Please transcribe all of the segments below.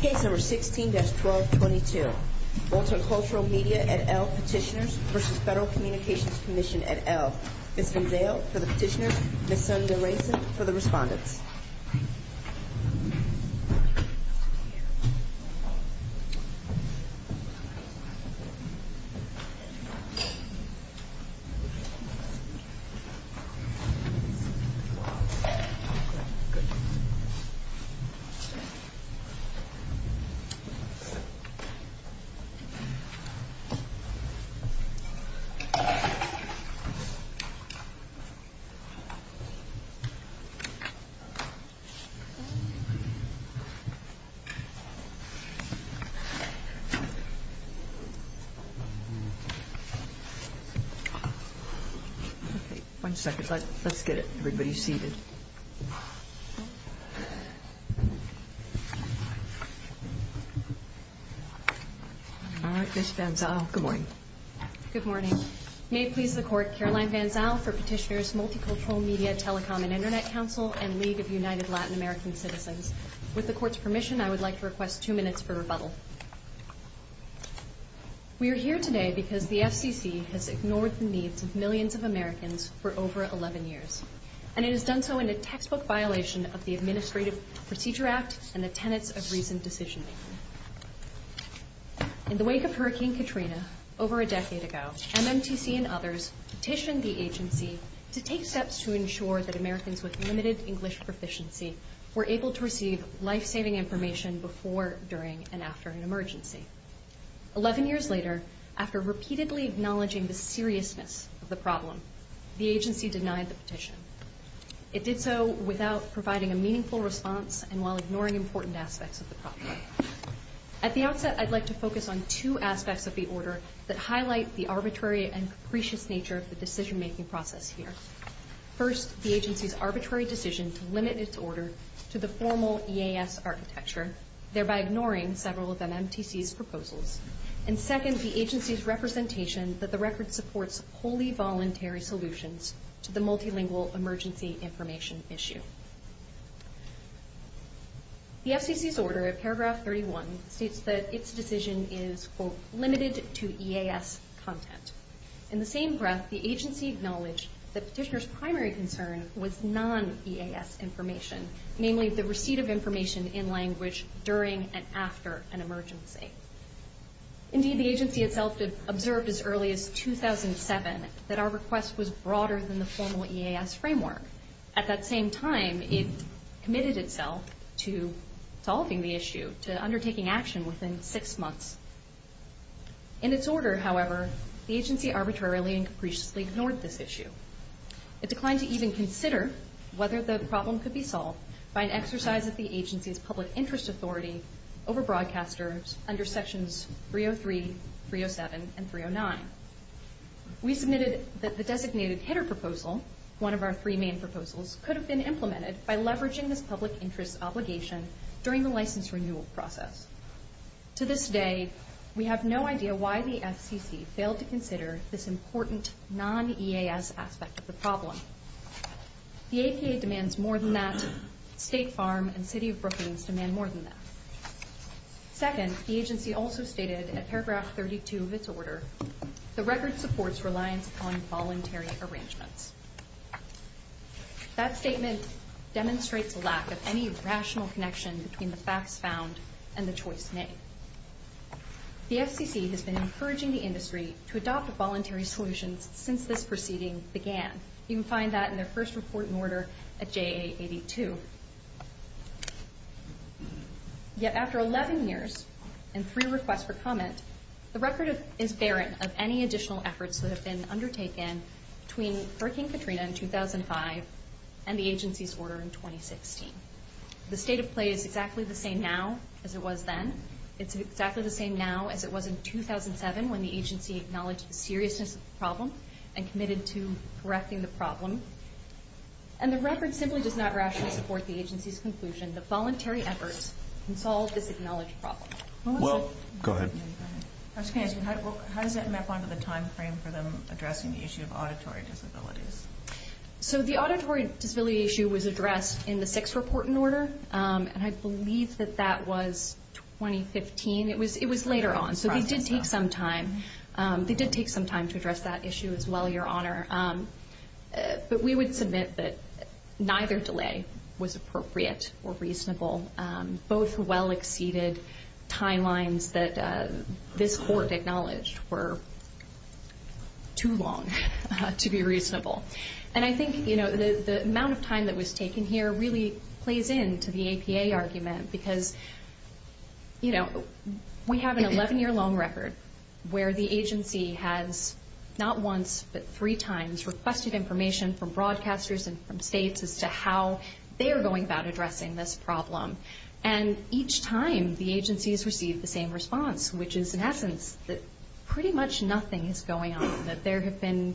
Case No. 16-1222 Multicultural Media et al. petitioners v. Federal Communications Commission et al. Ms. Gonzale for the petitioners, Ms. Sonja Rayson for the respondents. One second. Let's get everybody seated. All right, Ms. Gonzale, good morning. Good morning. May it please the Court, Caroline Gonzale for petitioners, Multicultural Media, Telecom and Internet Council, and League of United Latin American Citizens. With the Court's permission, I would like to request two minutes for rebuttal. We are here today because the FCC has ignored the needs of millions of Americans for over 11 years, and it has done so in a textbook violation of the Administrative Procedure Act and the tenets of reasoned decision-making. In the wake of Hurricane Katrina over a decade ago, MMTC and others petitioned the agency to take steps to ensure that Americans with limited English proficiency were able to receive life-saving information before, during, and after an emergency. Eleven years later, after repeatedly acknowledging the seriousness of the problem, the agency denied the petition. It did so without providing a meaningful response and while ignoring important aspects of the problem. At the outset, I'd like to focus on two aspects of the order that highlight the arbitrary and capricious nature of the decision-making process here. First, the agency's arbitrary decision to limit its order to the formal EAS architecture, thereby ignoring several of MMTC's proposals. And second, the agency's representation that the record supports wholly voluntary solutions to the multilingual emergency information issue. The FCC's order at paragraph 31 states that its decision is, quote, limited to EAS content. In the same breath, the agency acknowledged the petitioner's primary concern was non-EAS information, namely the receipt of information in language during and after an emergency. Indeed, the agency itself observed as early as 2007 that our request was broader than the formal EAS framework. At that same time, it committed itself to solving the issue, to undertaking action within six months. In its order, however, the agency arbitrarily and capriciously ignored this issue. It declined to even consider whether the problem could be solved by an exercise of the agency's public interest authority over broadcasters under sections 303, 307, and 309. We submitted that the designated hitter proposal, one of our three main proposals, could have been implemented by leveraging this public interest obligation during the license renewal process. To this day, we have no idea why the FCC failed to consider this important non-EAS aspect of the problem. The APA demands more than that. State Farm and City of Brookings demand more than that. Second, the agency also stated at paragraph 32 of its order, the record supports reliance upon voluntary arrangements. That statement demonstrates a lack of any rational connection between the facts found and the choice made. The FCC has been encouraging the industry to adopt voluntary solutions since this proceeding began. You can find that in their first report and order at JA82. Yet after 11 years and three requests for comment, the record is barren of any additional efforts that have been undertaken between Hurricane Katrina in 2005 and the agency's order in 2016. The state of play is exactly the same now as it was then. It's exactly the same now as it was in 2007 when the agency acknowledged the seriousness of the problem and committed to correcting the problem. And the record simply does not rationally support the agency's conclusion that voluntary efforts can solve this acknowledged problem. Well, go ahead. I was going to ask you, how does that map onto the timeframe for them addressing the issue of auditory disabilities? So the auditory disability issue was addressed in the sixth report and order, and I believe that that was 2015. It was later on, so they did take some time. They did take some time to address that issue as well, Your Honor. But we would submit that neither delay was appropriate or reasonable. Both well-exceeded timelines that this court acknowledged were too long to be reasonable. And I think, you know, the amount of time that was taken here really plays into the APA argument because, you know, we have an 11-year long record where the agency has not once but three times requested information from broadcasters and from states as to how they are going about addressing this problem. And each time, the agencies receive the same response, which is, in essence, that pretty much nothing is going on, that there have been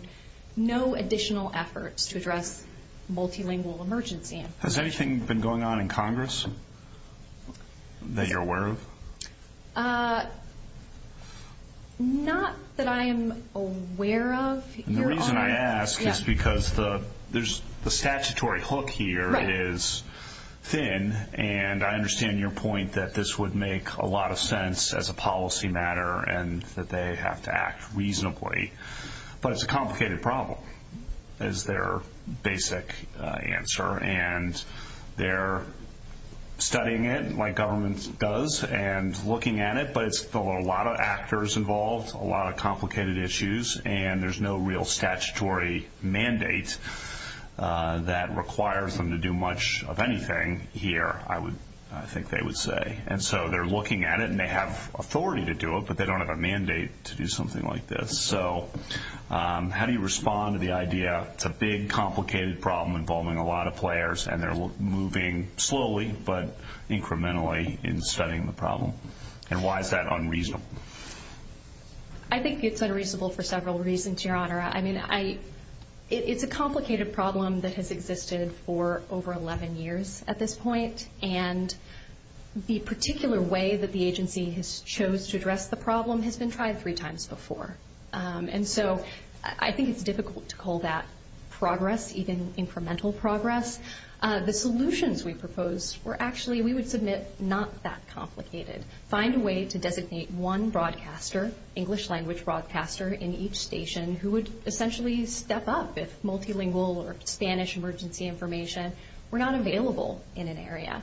no additional efforts to address multilingual emergency. Has anything been going on in Congress that you're aware of? The reason I ask is because the statutory hook here is thin, and I understand your point that this would make a lot of sense as a policy matter and that they have to act reasonably. But it's a complicated problem is their basic answer, and they're studying it like government does and looking at it, but it's got a lot of actors involved, a lot of complicated issues, and there's no real statutory mandate that requires them to do much of anything here, I think they would say. And so they're looking at it, and they have authority to do it, but they don't have a mandate to do something like this. So how do you respond to the idea it's a big, complicated problem involving a lot of players, and they're moving slowly but incrementally in studying the problem? And why is that unreasonable? I think it's unreasonable for several reasons, Your Honor. I mean, it's a complicated problem that has existed for over 11 years at this point, and the particular way that the agency has chose to address the problem has been tried three times before. And so I think it's difficult to call that progress, even incremental progress. The solutions we proposed were actually, we would submit not that complicated. Find a way to designate one broadcaster, English language broadcaster in each station, who would essentially step up if multilingual or Spanish emergency information were not available in an area.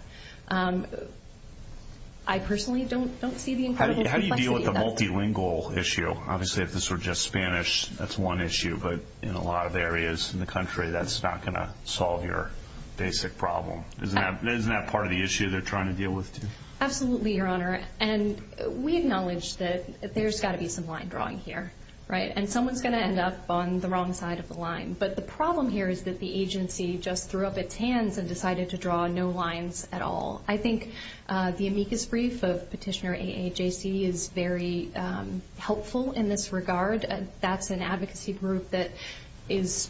I personally don't see the incredible complexity of that. The multilingual issue, obviously if this were just Spanish, that's one issue, but in a lot of areas in the country, that's not going to solve your basic problem. Isn't that part of the issue they're trying to deal with, too? Absolutely, Your Honor. And we acknowledge that there's got to be some line drawing here, right? And someone's going to end up on the wrong side of the line. But the problem here is that the agency just threw up its hands and decided to draw no lines at all. I think the amicus brief of Petitioner AAJC is very helpful in this regard. That's an advocacy group that is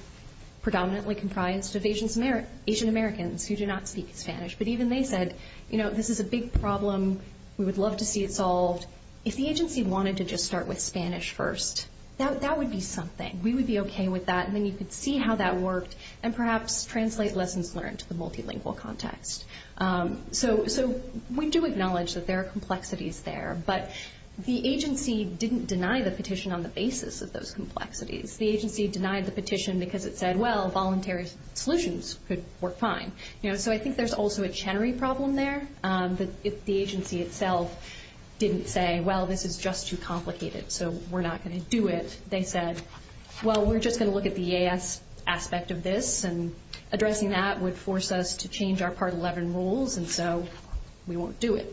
predominantly comprised of Asian Americans who do not speak Spanish. But even they said, you know, this is a big problem. We would love to see it solved. If the agency wanted to just start with Spanish first, that would be something. We would be okay with that. And then you could see how that worked and perhaps translate lessons learned to the multilingual context. So we do acknowledge that there are complexities there, but the agency didn't deny the petition on the basis of those complexities. The agency denied the petition because it said, well, voluntary solutions could work fine. So I think there's also a Chenery problem there. If the agency itself didn't say, well, this is just too complicated, so we're not going to do it, they said, well, we're just going to look at the EAS aspect of this, and addressing that would force us to change our Part 11 rules, and so we won't do it.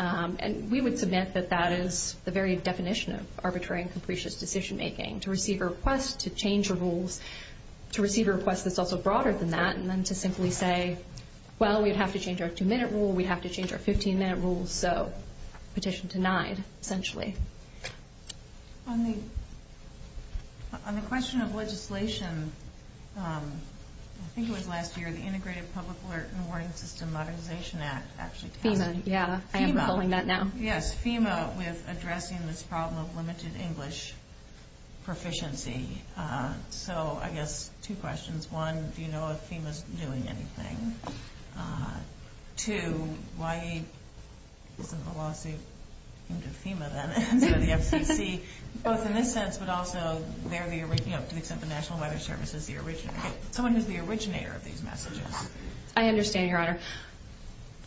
And we would submit that that is the very definition of arbitrary and capricious decision making, to receive a request to change the rules, to receive a request that's also broader than that, and then to simply say, well, we'd have to change our two-minute rule. We'd have to change our 15-minute rule. So the petition denied, essentially. On the question of legislation, I think it was last year, the Integrated Public Alert and Warning System Modernization Act actually passed. FEMA, yeah, I am pulling that now. Yes, FEMA with addressing this problem of limited English proficiency. So I guess two questions. One, do you know if FEMA's doing anything? Two, why isn't the lawsuit aimed at FEMA, then, instead of the FCC, both in this sense, but also to the extent the National Weather Service is the originator, someone who's the originator of these messages? I understand, Your Honor.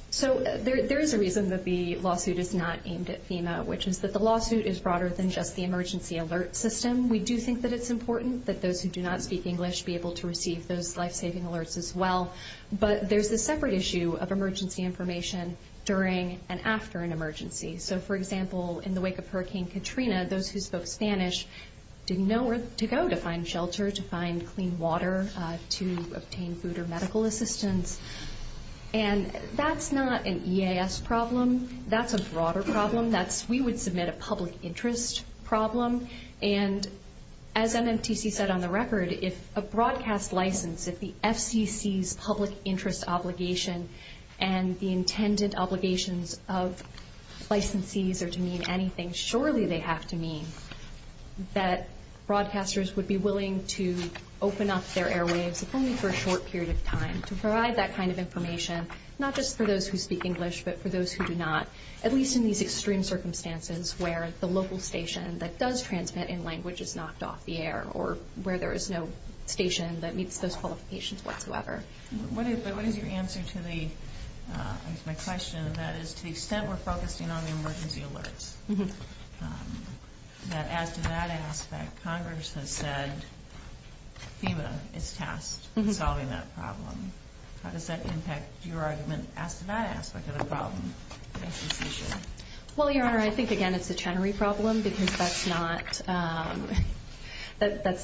So there is a reason that the lawsuit is not aimed at FEMA, which is that the lawsuit is broader than just the emergency alert system. We do think that it's important that those who do not speak English be able to receive those but there's a separate issue of emergency information during and after an emergency. So, for example, in the wake of Hurricane Katrina, those who spoke Spanish didn't know where to go to find shelter, to find clean water, to obtain food or medical assistance. And that's not an EAS problem. That's a broader problem. We would submit a public interest problem. And as MMTC said on the record, if a broadcast license, if the FCC's public interest obligation and the intended obligations of licensees are to mean anything, surely they have to mean that broadcasters would be willing to open up their airwaves if only for a short period of time to provide that kind of information, not just for those who speak English but for those who do not, at least in these extreme circumstances where the local station that does transmit in language is knocked off the air or where there is no station that meets those qualifications whatsoever. But what is your answer to my question? That is, to the extent we're focusing on the emergency alerts, that as to that aspect, Congress has said FEMA is tasked with solving that problem. How does that impact your argument as to that aspect of the problem? Well, Your Honor, I think, again, it's a Chenery problem because that's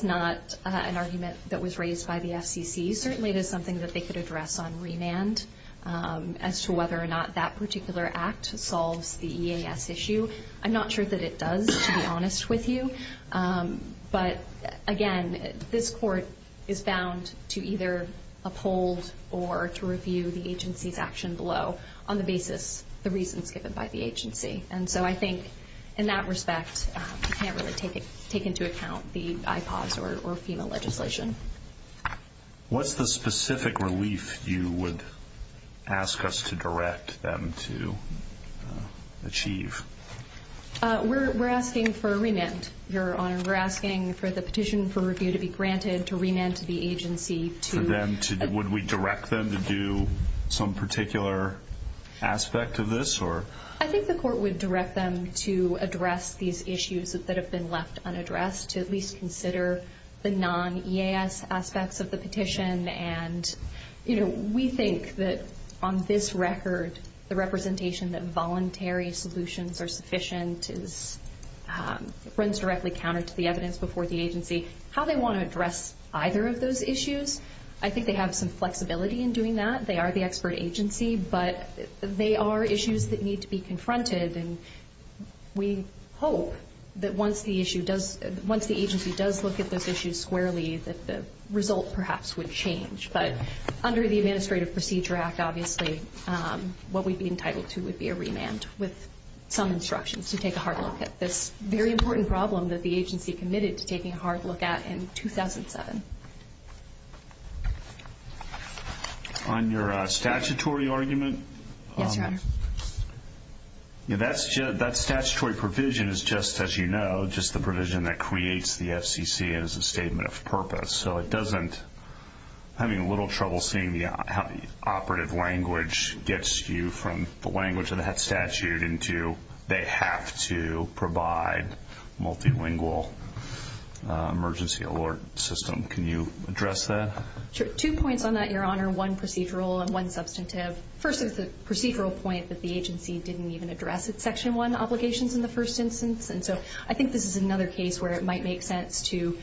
not an argument that was raised by the FCC. Certainly it is something that they could address on remand as to whether or not that particular act solves the EAS issue. I'm not sure that it does, to be honest with you. But, again, this court is bound to either uphold or to review the agency's action below on the basis of the reasons given by the agency. And so I think, in that respect, you can't really take into account the IPAWS or FEMA legislation. What's the specific relief you would ask us to direct them to achieve? We're asking for a remand, Your Honor. We're asking for the petition for review to be granted, to remand to the agency to Would we direct them to do some particular aspect of this? I think the court would direct them to address these issues that have been left unaddressed, to at least consider the non-EAS aspects of the petition. And we think that, on this record, the representation that voluntary solutions are sufficient runs directly counter to the evidence before the agency. How they want to address either of those issues, I think they have some flexibility in doing that. They are the expert agency, but they are issues that need to be confronted. And we hope that once the agency does look at those issues squarely, that the result perhaps would change. But under the Administrative Procedure Act, obviously, what we'd be entitled to would be a remand with some instructions to take a hard look at this very important problem that the agency committed to taking a hard look at in 2007. On your statutory argument? Yes, Your Honor. That statutory provision is just, as you know, just the provision that creates the FCC as a statement of purpose. So it doesn't, having a little trouble seeing how the operative language gets you from the language of the statute into they have to provide multilingual emergency alert system. Can you address that? Sure. Two points on that, Your Honor. One procedural and one substantive. First is the procedural point that the agency didn't even address its Section 1 obligations in the first instance. And so I think this is another case where it might make sense to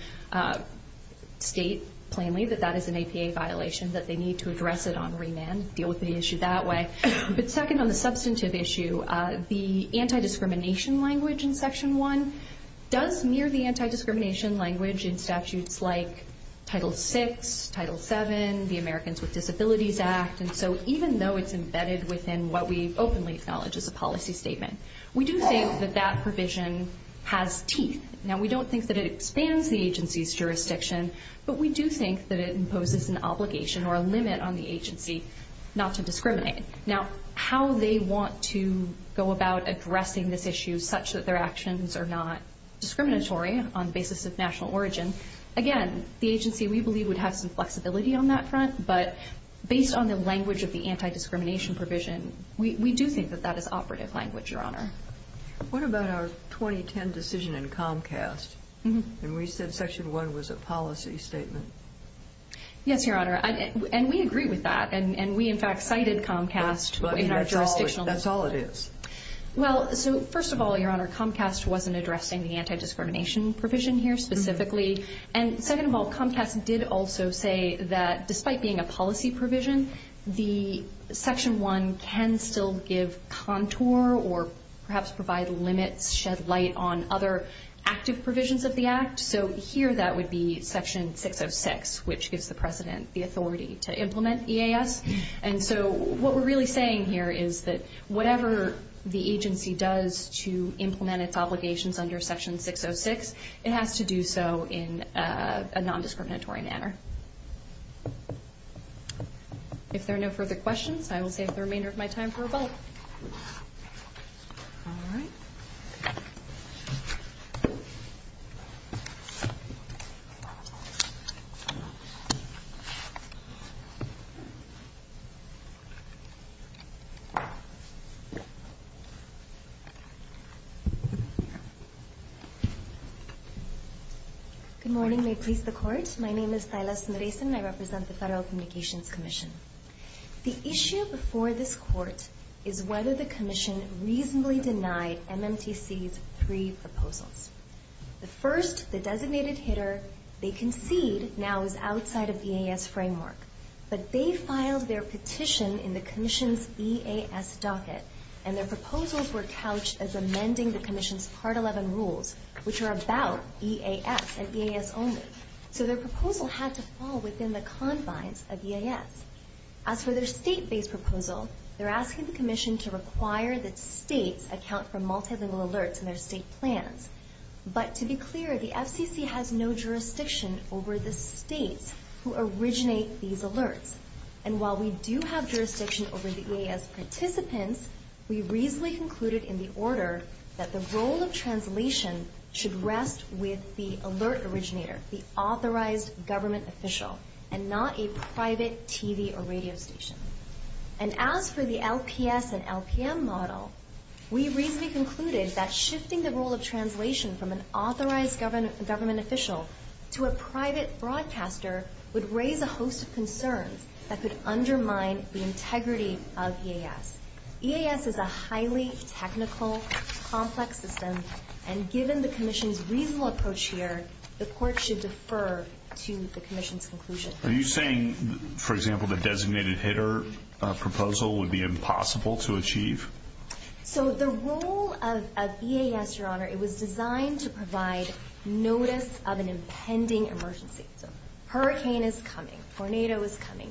state plainly that that is an APA violation, that they need to address it on remand, deal with the issue that way. But second on the substantive issue, the anti-discrimination language in Section 1 does mirror the anti-discrimination language in statutes like Title 6, Title 7, the Americans with Disabilities Act. And so even though it's embedded within what we openly acknowledge is a policy statement, we do think that that provision has teeth. Now, we don't think that it expands the agency's jurisdiction, but we do think that it imposes an obligation or a limit on the agency not to discriminate. Now, how they want to go about addressing this issue such that their actions are not discriminatory on the basis of national origin, again, the agency, we believe, would have some flexibility on that front. But based on the language of the anti-discrimination provision, we do think that that is operative language, Your Honor. What about our 2010 decision in Comcast? And we said Section 1 was a policy statement. Yes, Your Honor. And we agree with that. And we, in fact, cited Comcast in our jurisdictional. That's all it is. Well, so first of all, Your Honor, Comcast wasn't addressing the anti-discrimination provision here specifically. And second of all, Comcast did also say that despite being a policy provision, the Section 1 can still give contour or perhaps provide limits, shed light on other active provisions of the Act. So here that would be Section 606, which gives the President the authority to implement EAS. And so what we're really saying here is that whatever the agency does to implement its obligations under Section 606, it has to do so in a nondiscriminatory manner. If there are no further questions, I will save the remainder of my time for a vote. All right. Good morning. May it please the Court. My name is Silas Andresen, and I represent the Federal Communications Commission. The issue before this Court is whether the Commission reasonably denied MMTC's three proposals. The first, the designated hitter, they concede now is outside of the EAS framework. But they filed their petition in the Commission's EAS docket, and their proposals were couched as amending the Commission's Part 11 rules, which are about EAS and EAS only. So their proposal had to fall within the confines of EAS. As for their state-based proposal, they're asking the Commission to require that states account for multilingual alerts in their state plans. But to be clear, the FCC has no jurisdiction over the states who originate these alerts. And while we do have jurisdiction over the EAS participants, we reasonably concluded in the order that the role of translation should rest with the alert originator, the authorized government official, and not a private TV or radio station. And as for the LPS and LPM model, we reasonably concluded that shifting the role of translation from an authorized government official to a private broadcaster would raise a host of concerns that could undermine the integrity of EAS. EAS is a highly technical, complex system, and given the Commission's reasonable approach here, the Court should defer to the Commission's conclusion. Are you saying, for example, the designated hitter proposal would be impossible to achieve? So the role of EAS, Your Honor, it was designed to provide notice of an impending emergency. Hurricane is coming. Tornado is coming.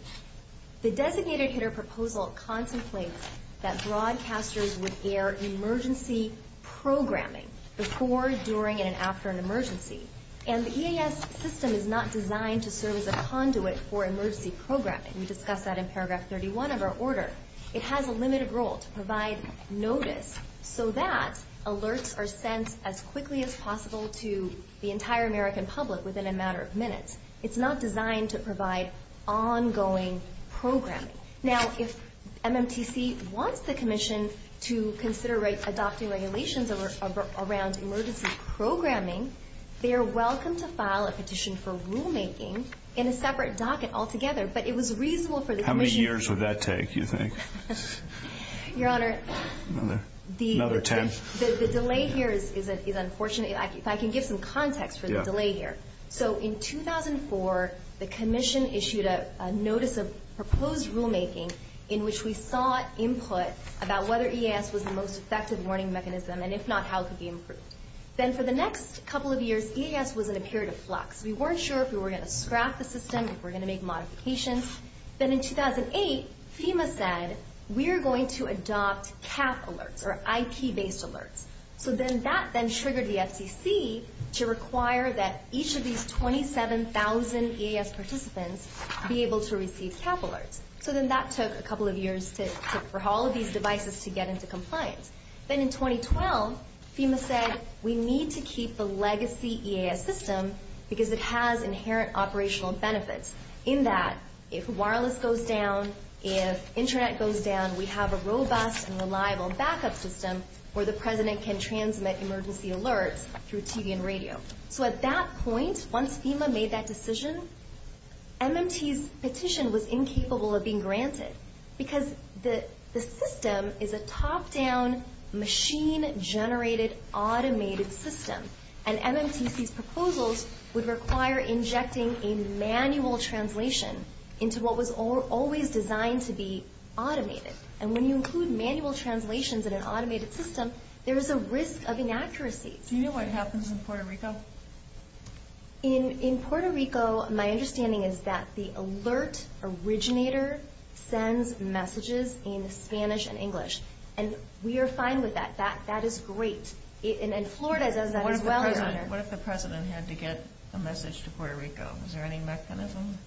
The designated hitter proposal contemplates that broadcasters would air emergency programming before, during, and after an emergency. And the EAS system is not designed to serve as a conduit for emergency programming. We discussed that in paragraph 31 of our order. It has a limited role to provide notice so that alerts are sent as quickly as possible to the entire American public within a matter of minutes. It's not designed to provide ongoing programming. Now, if MMTC wants the Commission to consider adopting regulations around emergency programming, they are welcome to file a petition for rulemaking in a separate docket altogether. But it was reasonable for the Commission. How many years would that take, you think? Your Honor, the delay here is unfortunate. If I can give some context for the delay here. So in 2004, the Commission issued a notice of proposed rulemaking in which we sought input about whether EAS was the most effective warning mechanism, and if not, how it could be improved. Then for the next couple of years, EAS was in a period of flux. We weren't sure if we were going to scrap the system, if we were going to make modifications. Then in 2008, FEMA said, we're going to adopt CAP alerts or IP-based alerts. So then that then triggered the FCC to require that each of these 27,000 EAS participants be able to receive CAP alerts. So then that took a couple of years for all of these devices to get into compliance. Then in 2012, FEMA said, we need to keep the legacy EAS system because it has inherent operational benefits. In that, if wireless goes down, if Internet goes down, we have a robust and reliable backup system where the President can transmit emergency alerts through TV and radio. So at that point, once FEMA made that decision, MMT's petition was incapable of being granted because the system is a top-down, machine-generated, automated system. And MMT's proposals would require injecting a manual translation into what was always designed to be automated. And when you include manual translations in an automated system, there is a risk of inaccuracy. In Puerto Rico, my understanding is that the alert originator sends messages in Spanish and English. And we are fine with that. That is great. And Florida does that as well. What if the President had to get a message to Puerto Rico? Is there any mechanism?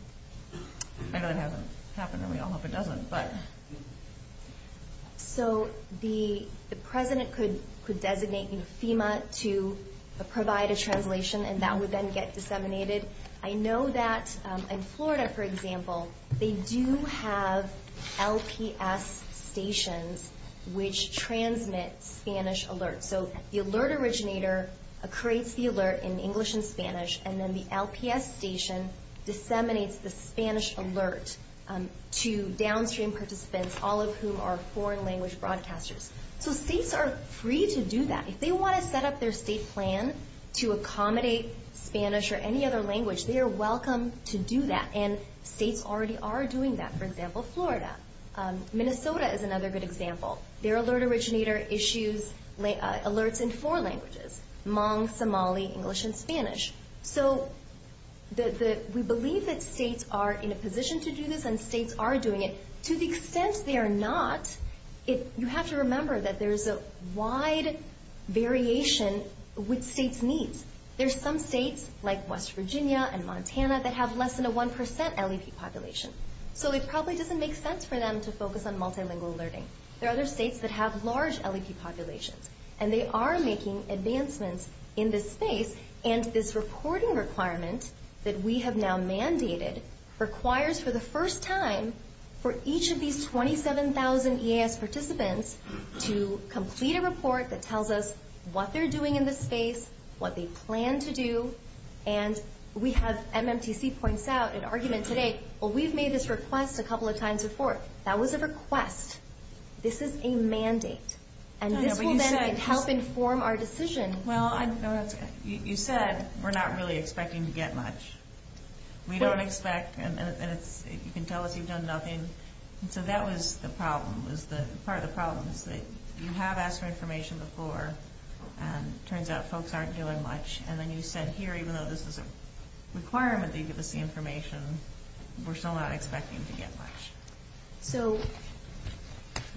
I know that hasn't happened, and we all hope it doesn't. So the President could designate FEMA to provide a translation, and that would then get disseminated. I know that in Florida, for example, they do have LPS stations which transmit Spanish alerts. So the alert originator creates the alert in English and Spanish, and then the LPS station disseminates the Spanish alert to downstream participants, all of whom are foreign-language broadcasters. So states are free to do that. If they want to set up their state plan to accommodate Spanish or any other language, they are welcome to do that. And states already are doing that. For example, Florida. Minnesota is another good example. Their alert originator issues alerts in four languages, Hmong, Somali, English, and Spanish. So we believe that states are in a position to do this, and states are doing it. To the extent they are not, you have to remember that there is a wide variation with states' needs. There are some states, like West Virginia and Montana, that have less than a 1% LEP population. So it probably doesn't make sense for them to focus on multilingual alerting. There are other states that have large LEP populations, and they are making advancements in this space. And this reporting requirement that we have now mandated requires, for the first time, for each of these 27,000 EAS participants to complete a report that tells us what they're doing in this space, what they plan to do, and we have MMTC points out an argument today, well, we've made this request a couple of times before. That was a request. This is a mandate. And this will then help inform our decision. Well, you said we're not really expecting to get much. We don't expect, and you can tell us you've done nothing. So that was the problem, was part of the problem, is that you have asked for information before, and it turns out folks aren't doing much. And then you said here, even though this is a requirement that you give us the information, we're still not expecting to get much. So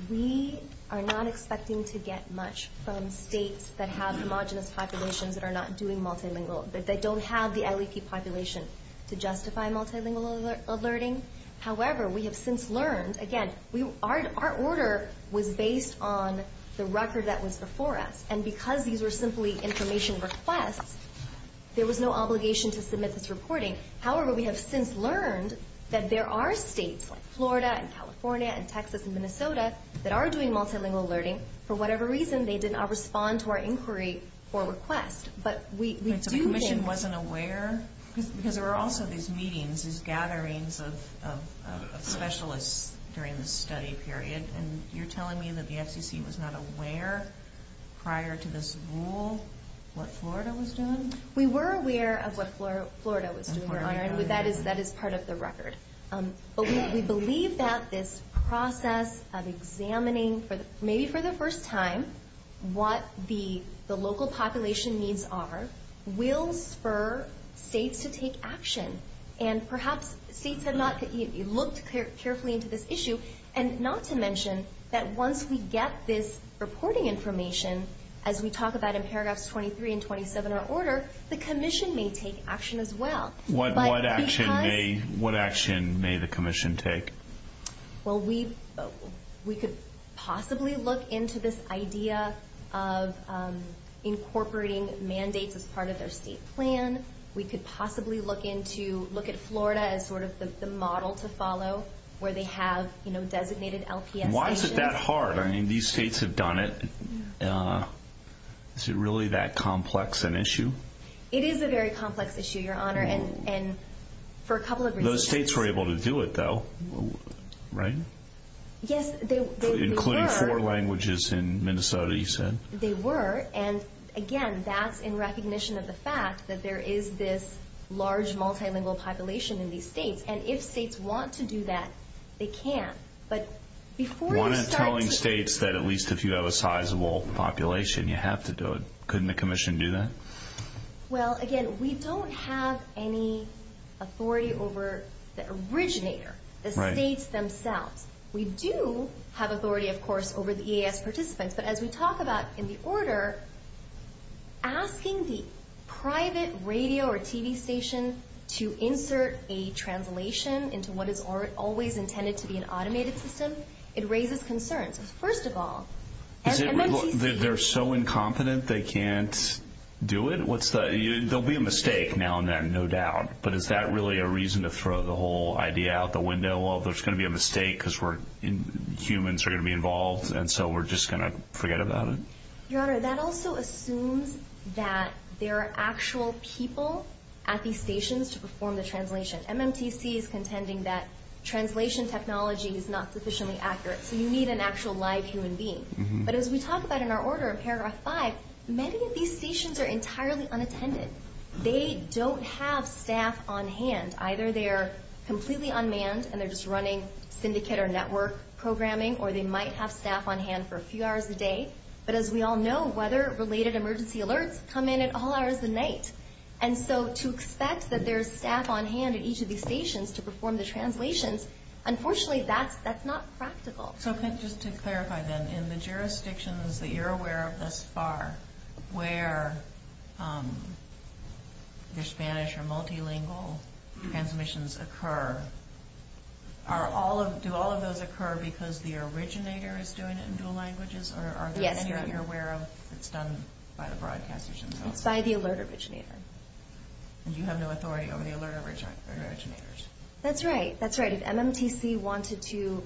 we are not expecting to get much from states that have homogenous populations that are not doing multilingual, that don't have the LEP population to justify multilingual alerting. However, we have since learned, again, our order was based on the record that was before us. And because these were simply information requests, there was no obligation to submit this reporting. However, we have since learned that there are states, like Florida and California and Texas and Minnesota, that are doing multilingual alerting. For whatever reason, they did not respond to our inquiry or request. So the commission wasn't aware? Because there were also these meetings, these gatherings of specialists during the study period, and you're telling me that the FCC was not aware prior to this rule what Florida was doing? We were aware of what Florida was doing. That is part of the record. But we believe that this process of examining, maybe for the first time, what the local population needs are will spur states to take action. And perhaps states have not looked carefully into this issue, and not to mention that once we get this reporting information, as we talk about in paragraphs 23 and 27 of our order, the commission may take action as well. What action may the commission take? Well, we could possibly look into this idea of incorporating mandates as part of their state plan. We could possibly look at Florida as sort of the model to follow, where they have designated LPS stations. Why is it that hard? I mean, these states have done it. Is it really that complex an issue? It is a very complex issue, Your Honor, and for a couple of reasons. Those states were able to do it, though, right? Yes, they were. Including four languages in Minnesota, you said? They were. And, again, that's in recognition of the fact that there is this large multilingual population in these states. And if states want to do that, they can. But before you start to... One is telling states that at least if you have a sizable population, you have to do it. Couldn't the commission do that? Well, again, we don't have any authority over the originator, the states themselves. We do have authority, of course, over the EAS participants. But as we talk about in the order, asking the private radio or TV station to insert a translation into what is always intended to be an automated system, it raises concerns. First of all... They're so incompetent they can't do it? There will be a mistake now and then, no doubt. But is that really a reason to throw the whole idea out the window of there's going to be a mistake because humans are going to be involved, and so we're just going to forget about it? Your Honor, that also assumes that there are actual people at these stations to perform the translation. MMTC is contending that translation technology is not sufficiently accurate. So you need an actual live human being. But as we talk about in our order in paragraph 5, many of these stations are entirely unattended. They don't have staff on hand. Either they are completely unmanned and they're just running syndicate or network programming, or they might have staff on hand for a few hours a day. But as we all know, weather-related emergency alerts come in at all hours of the night. And so to expect that there's staff on hand at each of these stations to perform the translations, unfortunately that's not practical. So just to clarify then, in the jurisdictions that you're aware of thus far, where the Spanish or multilingual transmissions occur, do all of those occur because the originator is doing it in dual languages? Yes, Your Honor. Or are there any that you're aware of that's done by the broadcasters themselves? It's by the alert originator. And you have no authority over the alert originators? That's right. That's right. If MMTC wanted to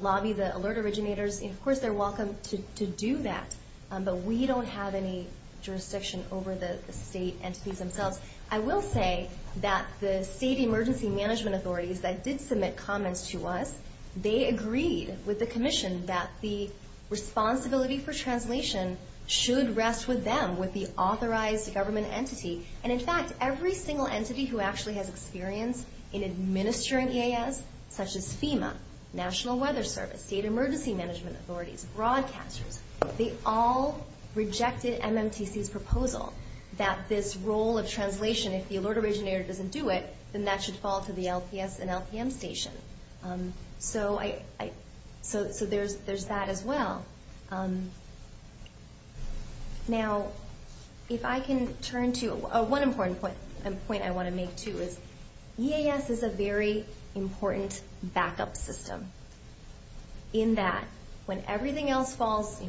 lobby the alert originators, of course they're welcome to do that. But we don't have any jurisdiction over the state entities themselves. I will say that the state emergency management authorities that did submit comments to us, they agreed with the commission that the responsibility for translation should rest with them, with the authorized government entity. And, in fact, every single entity who actually has experience in administering EAS, such as FEMA, National Weather Service, state emergency management authorities, broadcasters, they all rejected MMTC's proposal that this role of translation, if the alert originator doesn't do it, then that should fall to the LPS and LPM station. So there's that as well. Now, if I can turn to one important point I want to make, too, is EAS is a very important backup system in that when everything else falls,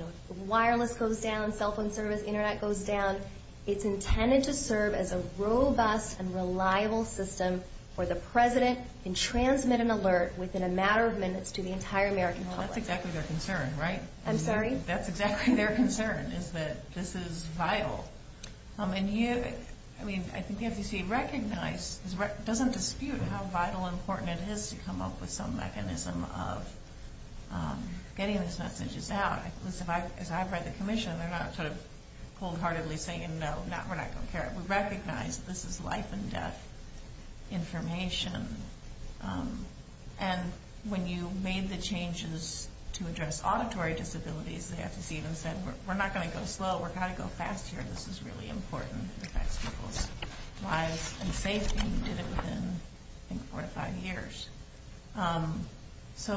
wireless goes down, cell phone service, Internet goes down, it's intended to serve as a robust and reliable system where the president can transmit an alert within a matter of minutes to the entire American public. That's exactly their concern, right? I'm sorry? That's exactly their concern, is that this is vital. I mean, I think you have to see, recognize, doesn't dispute how vital and important it is to come up with some mechanism of getting these messages out. As I've read the commission, they're not sort of cold-heartedly saying, no, we're not going to care. We recognize that this is life-and-death information. And when you made the changes to address auditory disabilities, the FCC even said, we're not going to go slow. We're going to go fast here. This is really important. It affects people's lives and safety. And you did it within, I think, four to five years. So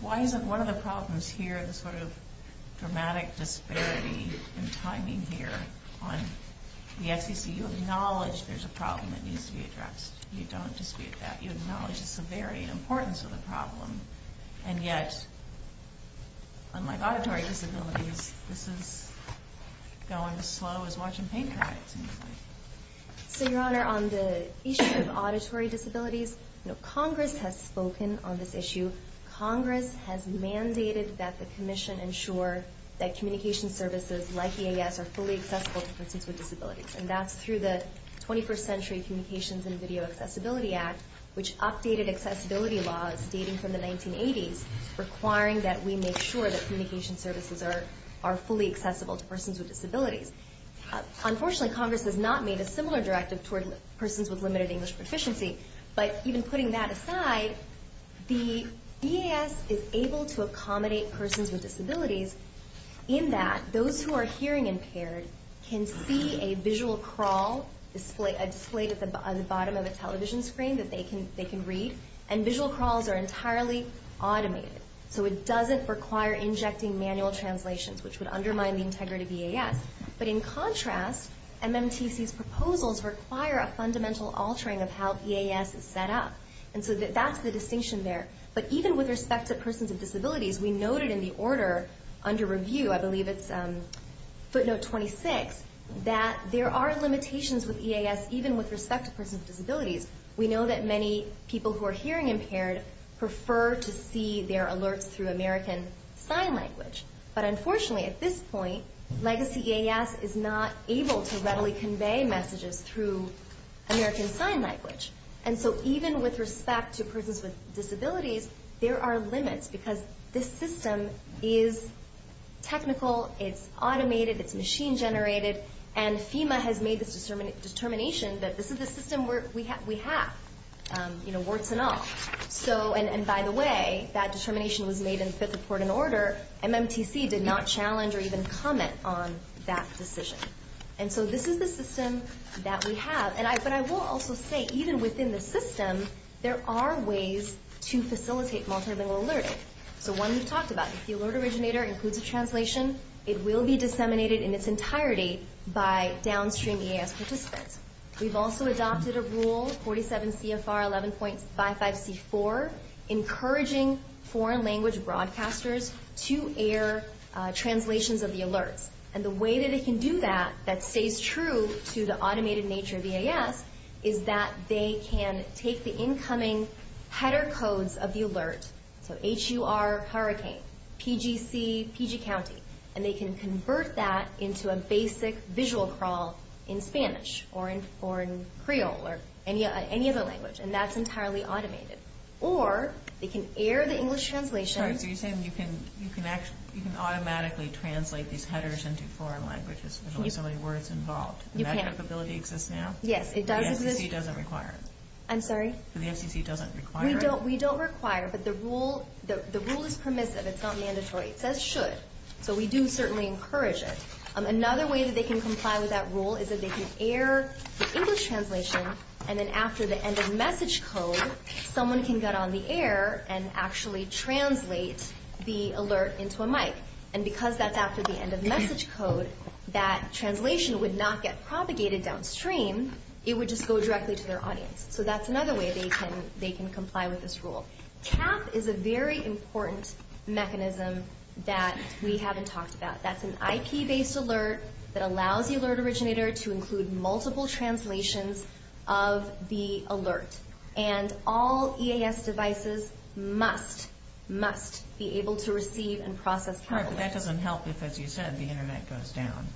why is it one of the problems here, the sort of dramatic disparity in timing here on the FCC, you acknowledge there's a problem that needs to be addressed. You don't dispute that. You acknowledge the severity and importance of the problem. And yet, unlike auditory disabilities, this is going as slow as watching paint dry, it seems like. So, Your Honor, on the issue of auditory disabilities, Congress has spoken on this issue. Congress has mandated that the commission ensure that communication services like EAS are fully accessible to persons with disabilities. And that's through the 21st Century Communications and Video Accessibility Act, which updated accessibility laws dating from the 1980s, requiring that we make sure that communication services are fully accessible to persons with disabilities. Unfortunately, Congress has not made a similar directive toward persons with limited English proficiency. But even putting that aside, the EAS is able to accommodate persons with disabilities in that those who are hearing impaired can see a visual crawl displayed at the bottom of a television screen that they can read, and visual crawls are entirely automated. So it doesn't require injecting manual translations, which would undermine the integrity of EAS. But in contrast, MMTC's proposals require a fundamental altering of how EAS is set up. And so that's the distinction there. But even with respect to persons with disabilities, we noted in the order under review, I believe it's footnote 26, that there are limitations with EAS, even with respect to persons with disabilities. We know that many people who are hearing impaired prefer to see their alerts through American Sign Language. But unfortunately, at this point, Legacy EAS is not able to readily convey messages through American Sign Language. And so even with respect to persons with disabilities, there are limits, because this system is technical, it's automated, it's machine-generated, and FEMA has made this determination that this is the system we have, you know, warts and all. And by the way, that determination was made in the fifth report in order. MMTC did not challenge or even comment on that decision. And so this is the system that we have. But I will also say, even within the system, there are ways to facilitate multilingual alerting. So one we've talked about, if the alert originator includes a translation, it will be disseminated in its entirety by downstream EAS participants. We've also adopted a rule, 47 CFR 11.55C4, encouraging foreign language broadcasters to air translations of the alerts. And the way that it can do that, that stays true to the automated nature of EAS, is that they can take the incoming header codes of the alert, so H-U-R, hurricane, P-G-C, PG county, and they can convert that into a basic visual crawl in Spanish or in Creole or any other language. And that's entirely automated. Or they can air the English translation. So you're saying you can automatically translate these headers into foreign languages with only so many words involved. You can. And that capability exists now? Yes, it does exist. The FCC doesn't require it? I'm sorry? The FCC doesn't require it? We don't require it, but the rule is permissive. It's not mandatory. It says should. So we do certainly encourage it. Another way that they can comply with that rule is that they can air the English translation, and then after the end of message code, someone can get on the air and actually translate the alert into a mic. And because that's after the end of message code, that translation would not get propagated downstream. It would just go directly to their audience. So that's another way they can comply with this rule. TAP is a very important mechanism that we haven't talked about. That's an IP-based alert that allows the alert originator to include multiple translations of the alert. And all EAS devices must, must be able to receive and process TAP alerts. All right, but that doesn't help if, as you said, the Internet goes down,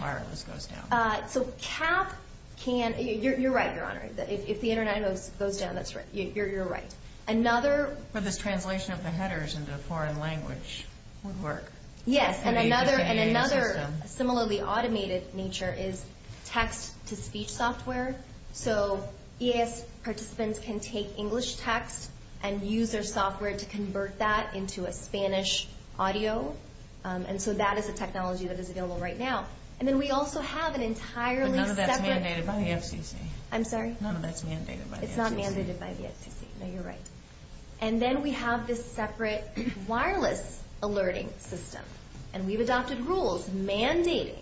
wireless goes down. So TAP can – you're right, Your Honor. If the Internet goes down, that's right. You're right. Another – But this translation of the headers into a foreign language would work. Yes, and another similarly automated nature is text-to-speech software. So EAS participants can take English text and use their software to convert that into a Spanish audio. And so that is a technology that is available right now. And then we also have an entirely separate – But none of that's mandated by the FCC. I'm sorry? None of that's mandated by the FCC. It's not mandated by the FCC. No, you're right. And then we have this separate wireless alerting system. And we've adopted rules mandating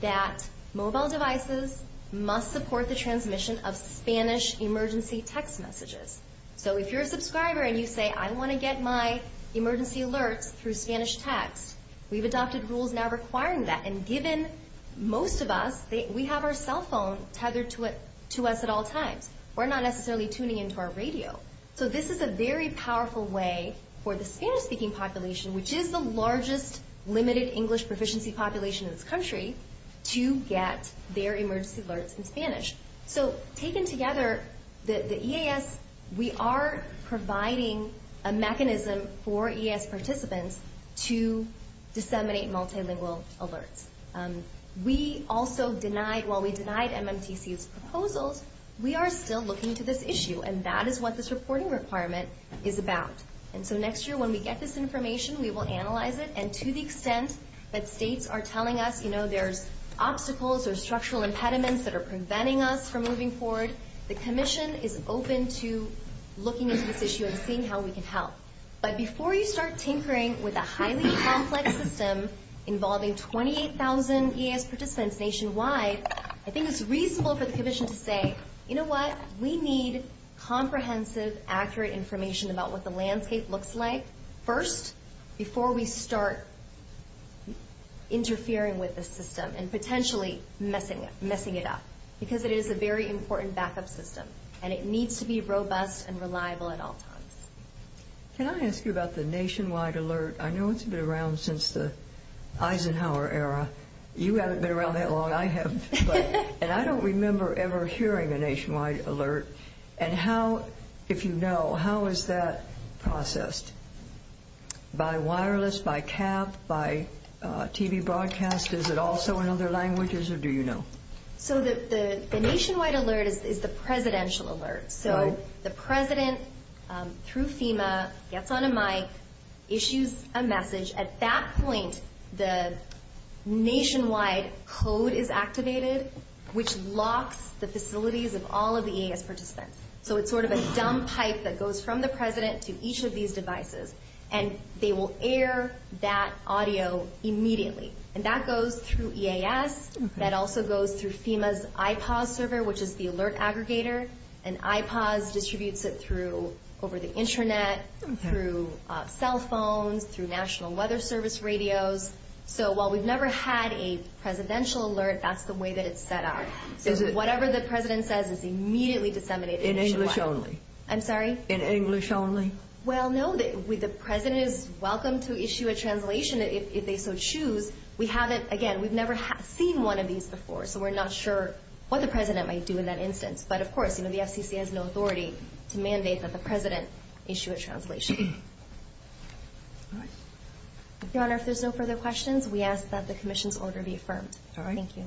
that mobile devices must support the transmission of Spanish emergency text messages. So if you're a subscriber and you say, I want to get my emergency alerts through Spanish text, we've adopted rules now requiring that. And given most of us, we have our cell phone tethered to us at all times. We're not necessarily tuning into our radio. So this is a very powerful way for the Spanish-speaking population, which is the largest limited English proficiency population in this country, to get their emergency alerts in Spanish. So taken together, the EAS, we are providing a mechanism for EAS participants to disseminate multilingual alerts. We also denied – while we denied MMTC's proposals, we are still looking to this issue. And that is what this reporting requirement is about. And so next year, when we get this information, we will analyze it. And to the extent that states are telling us, you know, there's obstacles or structural impediments that are preventing us from moving forward, the Commission is open to looking into this issue and seeing how we can help. But before you start tinkering with a highly complex system involving 28,000 EAS participants nationwide, I think it's reasonable for the Commission to say, you know what? We need comprehensive, accurate information about what the landscape looks like first, before we start interfering with this system and potentially messing it up. Because it is a very important backup system, and it needs to be robust and reliable at all times. Can I ask you about the nationwide alert? I know it's been around since the Eisenhower era. You haven't been around that long. I have. And I don't remember ever hearing a nationwide alert. And how – if you know, how is that processed? By wireless, by cab, by TV broadcast? Is it also in other languages, or do you know? So the nationwide alert is the presidential alert. So the president, through FEMA, gets on a mic, issues a message. At that point, the nationwide code is activated, which locks the facilities of all of the EAS participants. So it's sort of a dumb pipe that goes from the president to each of these devices, and they will air that audio immediately. And that goes through EAS. That also goes through FEMA's IPOS server, which is the alert aggregator. And IPOS distributes it through – over the Internet, through cell phones, through National Weather Service radios. So while we've never had a presidential alert, that's the way that it's set up. So whatever the president says is immediately disseminated nationwide. In English only? I'm sorry? In English only? Well, no. The president is welcome to issue a translation if they so choose. We haven't – again, we've never seen one of these before, so we're not sure what the president might do in that instance. But, of course, the FCC has no authority to mandate that the president issue a translation. All right. Your Honor, if there's no further questions, we ask that the commission's order be affirmed. All right. Thank you.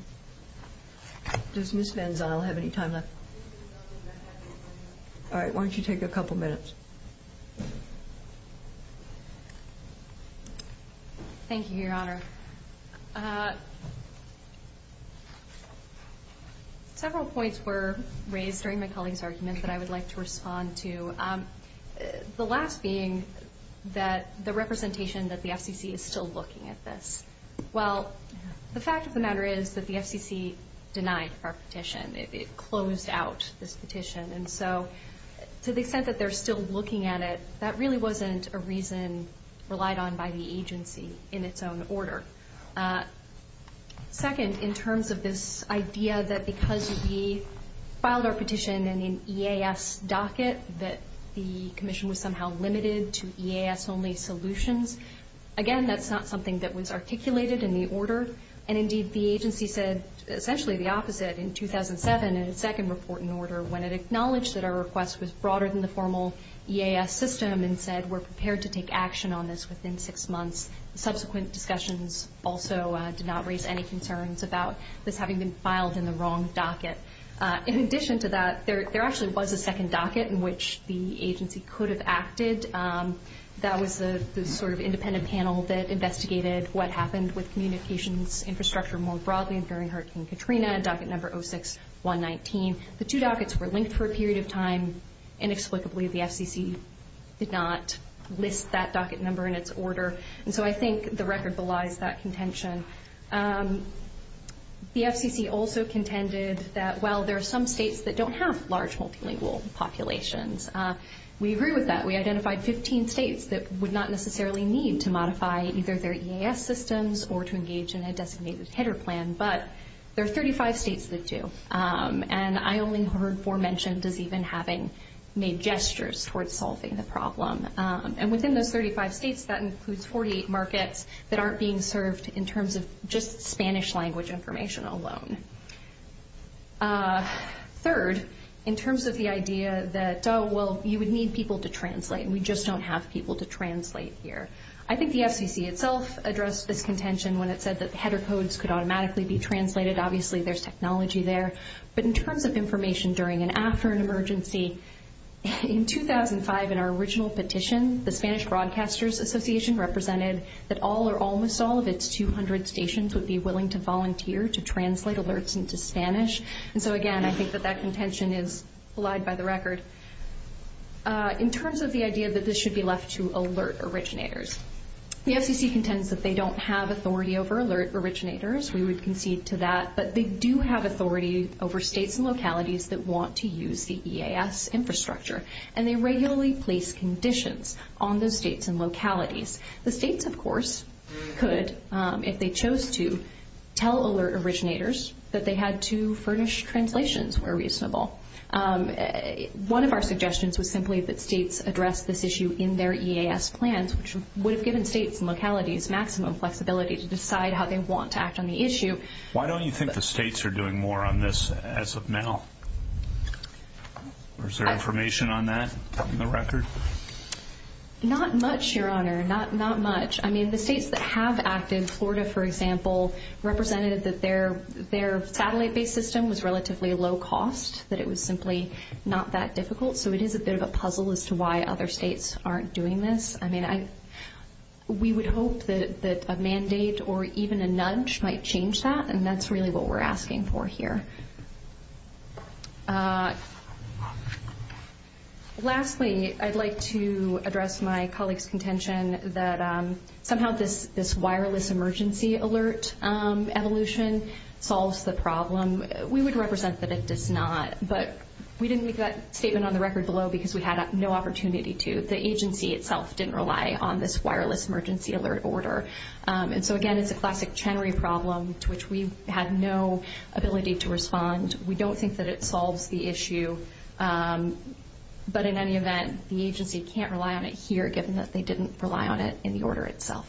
Does Ms. Van Zyl have any time left? All right, why don't you take a couple minutes? Thank you, Your Honor. Several points were raised during my colleague's argument that I would like to respond to, the last being that the representation that the FCC is still looking at this. Well, the fact of the matter is that the FCC denied our petition. It closed out this petition. And so to the extent that they're still looking at it, that really wasn't a reason relied on by the agency in its own order. Second, in terms of this idea that because we filed our petition in an EAS docket, that the commission was somehow limited to EAS-only solutions, again, that's not something that was articulated in the order. And, indeed, the agency said essentially the opposite in 2007 in its second report and order when it acknowledged that our request was broader than the formal EAS system and said we're prepared to take action on this within six months. Subsequent discussions also did not raise any concerns about this having been filed in the wrong docket. In addition to that, there actually was a second docket in which the agency could have acted. That was the sort of independent panel that investigated what happened with communications infrastructure more broadly during Hurricane Katrina, docket number 06119. The two dockets were linked for a period of time. Inexplicably, the FCC did not list that docket number in its order. And so I think the record belies that contention. The FCC also contended that, well, there are some states that don't have large multilingual populations. We agree with that. We identified 15 states that would not necessarily need to modify either their EAS systems or to engage in a designated header plan, but there are 35 states that do. And I only heard four mentioned as even having made gestures towards solving the problem. And within those 35 states, that includes 48 markets that aren't being served in terms of just Spanish language information alone. Third, in terms of the idea that, oh, well, you would need people to translate, and we just don't have people to translate here. I think the FCC itself addressed this contention when it said that header codes could automatically be translated. Obviously, there's technology there. But in terms of information during and after an emergency, in 2005, in our original petition, the Spanish Broadcasters Association represented that all or almost all of its 200 stations would be willing to volunteer to translate alerts into Spanish. And so, again, I think that that contention is belied by the record. In terms of the idea that this should be left to alert originators, the FCC contends that they don't have authority over alert originators. We would concede to that. But they do have authority over states and localities that want to use the EAS infrastructure, and they regularly place conditions on those states and localities. The states, of course, could, if they chose to, tell alert originators that they had to furnish translations where reasonable. One of our suggestions was simply that states address this issue in their EAS plans, which would have given states and localities maximum flexibility to decide how they want to act on the issue. Why don't you think the states are doing more on this as of now? Is there information on that in the record? Not much, Your Honor. Not much. I mean, the states that have acted, Florida, for example, represented that their satellite-based system was relatively low cost, that it was simply not that difficult. So it is a bit of a puzzle as to why other states aren't doing this. I mean, we would hope that a mandate or even a nudge might change that, and that's really what we're asking for here. Lastly, I'd like to address my colleague's contention that somehow this wireless emergency alert evolution solves the problem. We would represent that it does not, but we didn't leave that statement on the record below because we had no opportunity to. The agency itself didn't rely on this wireless emergency alert order. And so, again, it's a classic Chenery problem to which we had no ability to respond. We don't think that it solves the issue. But in any event, the agency can't rely on it here given that they didn't rely on it in the order itself.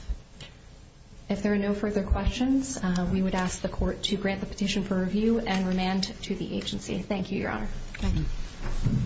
If there are no further questions, we would ask the Court to grant the petition for review and remand to the agency. Thank you, Your Honor. Thank you.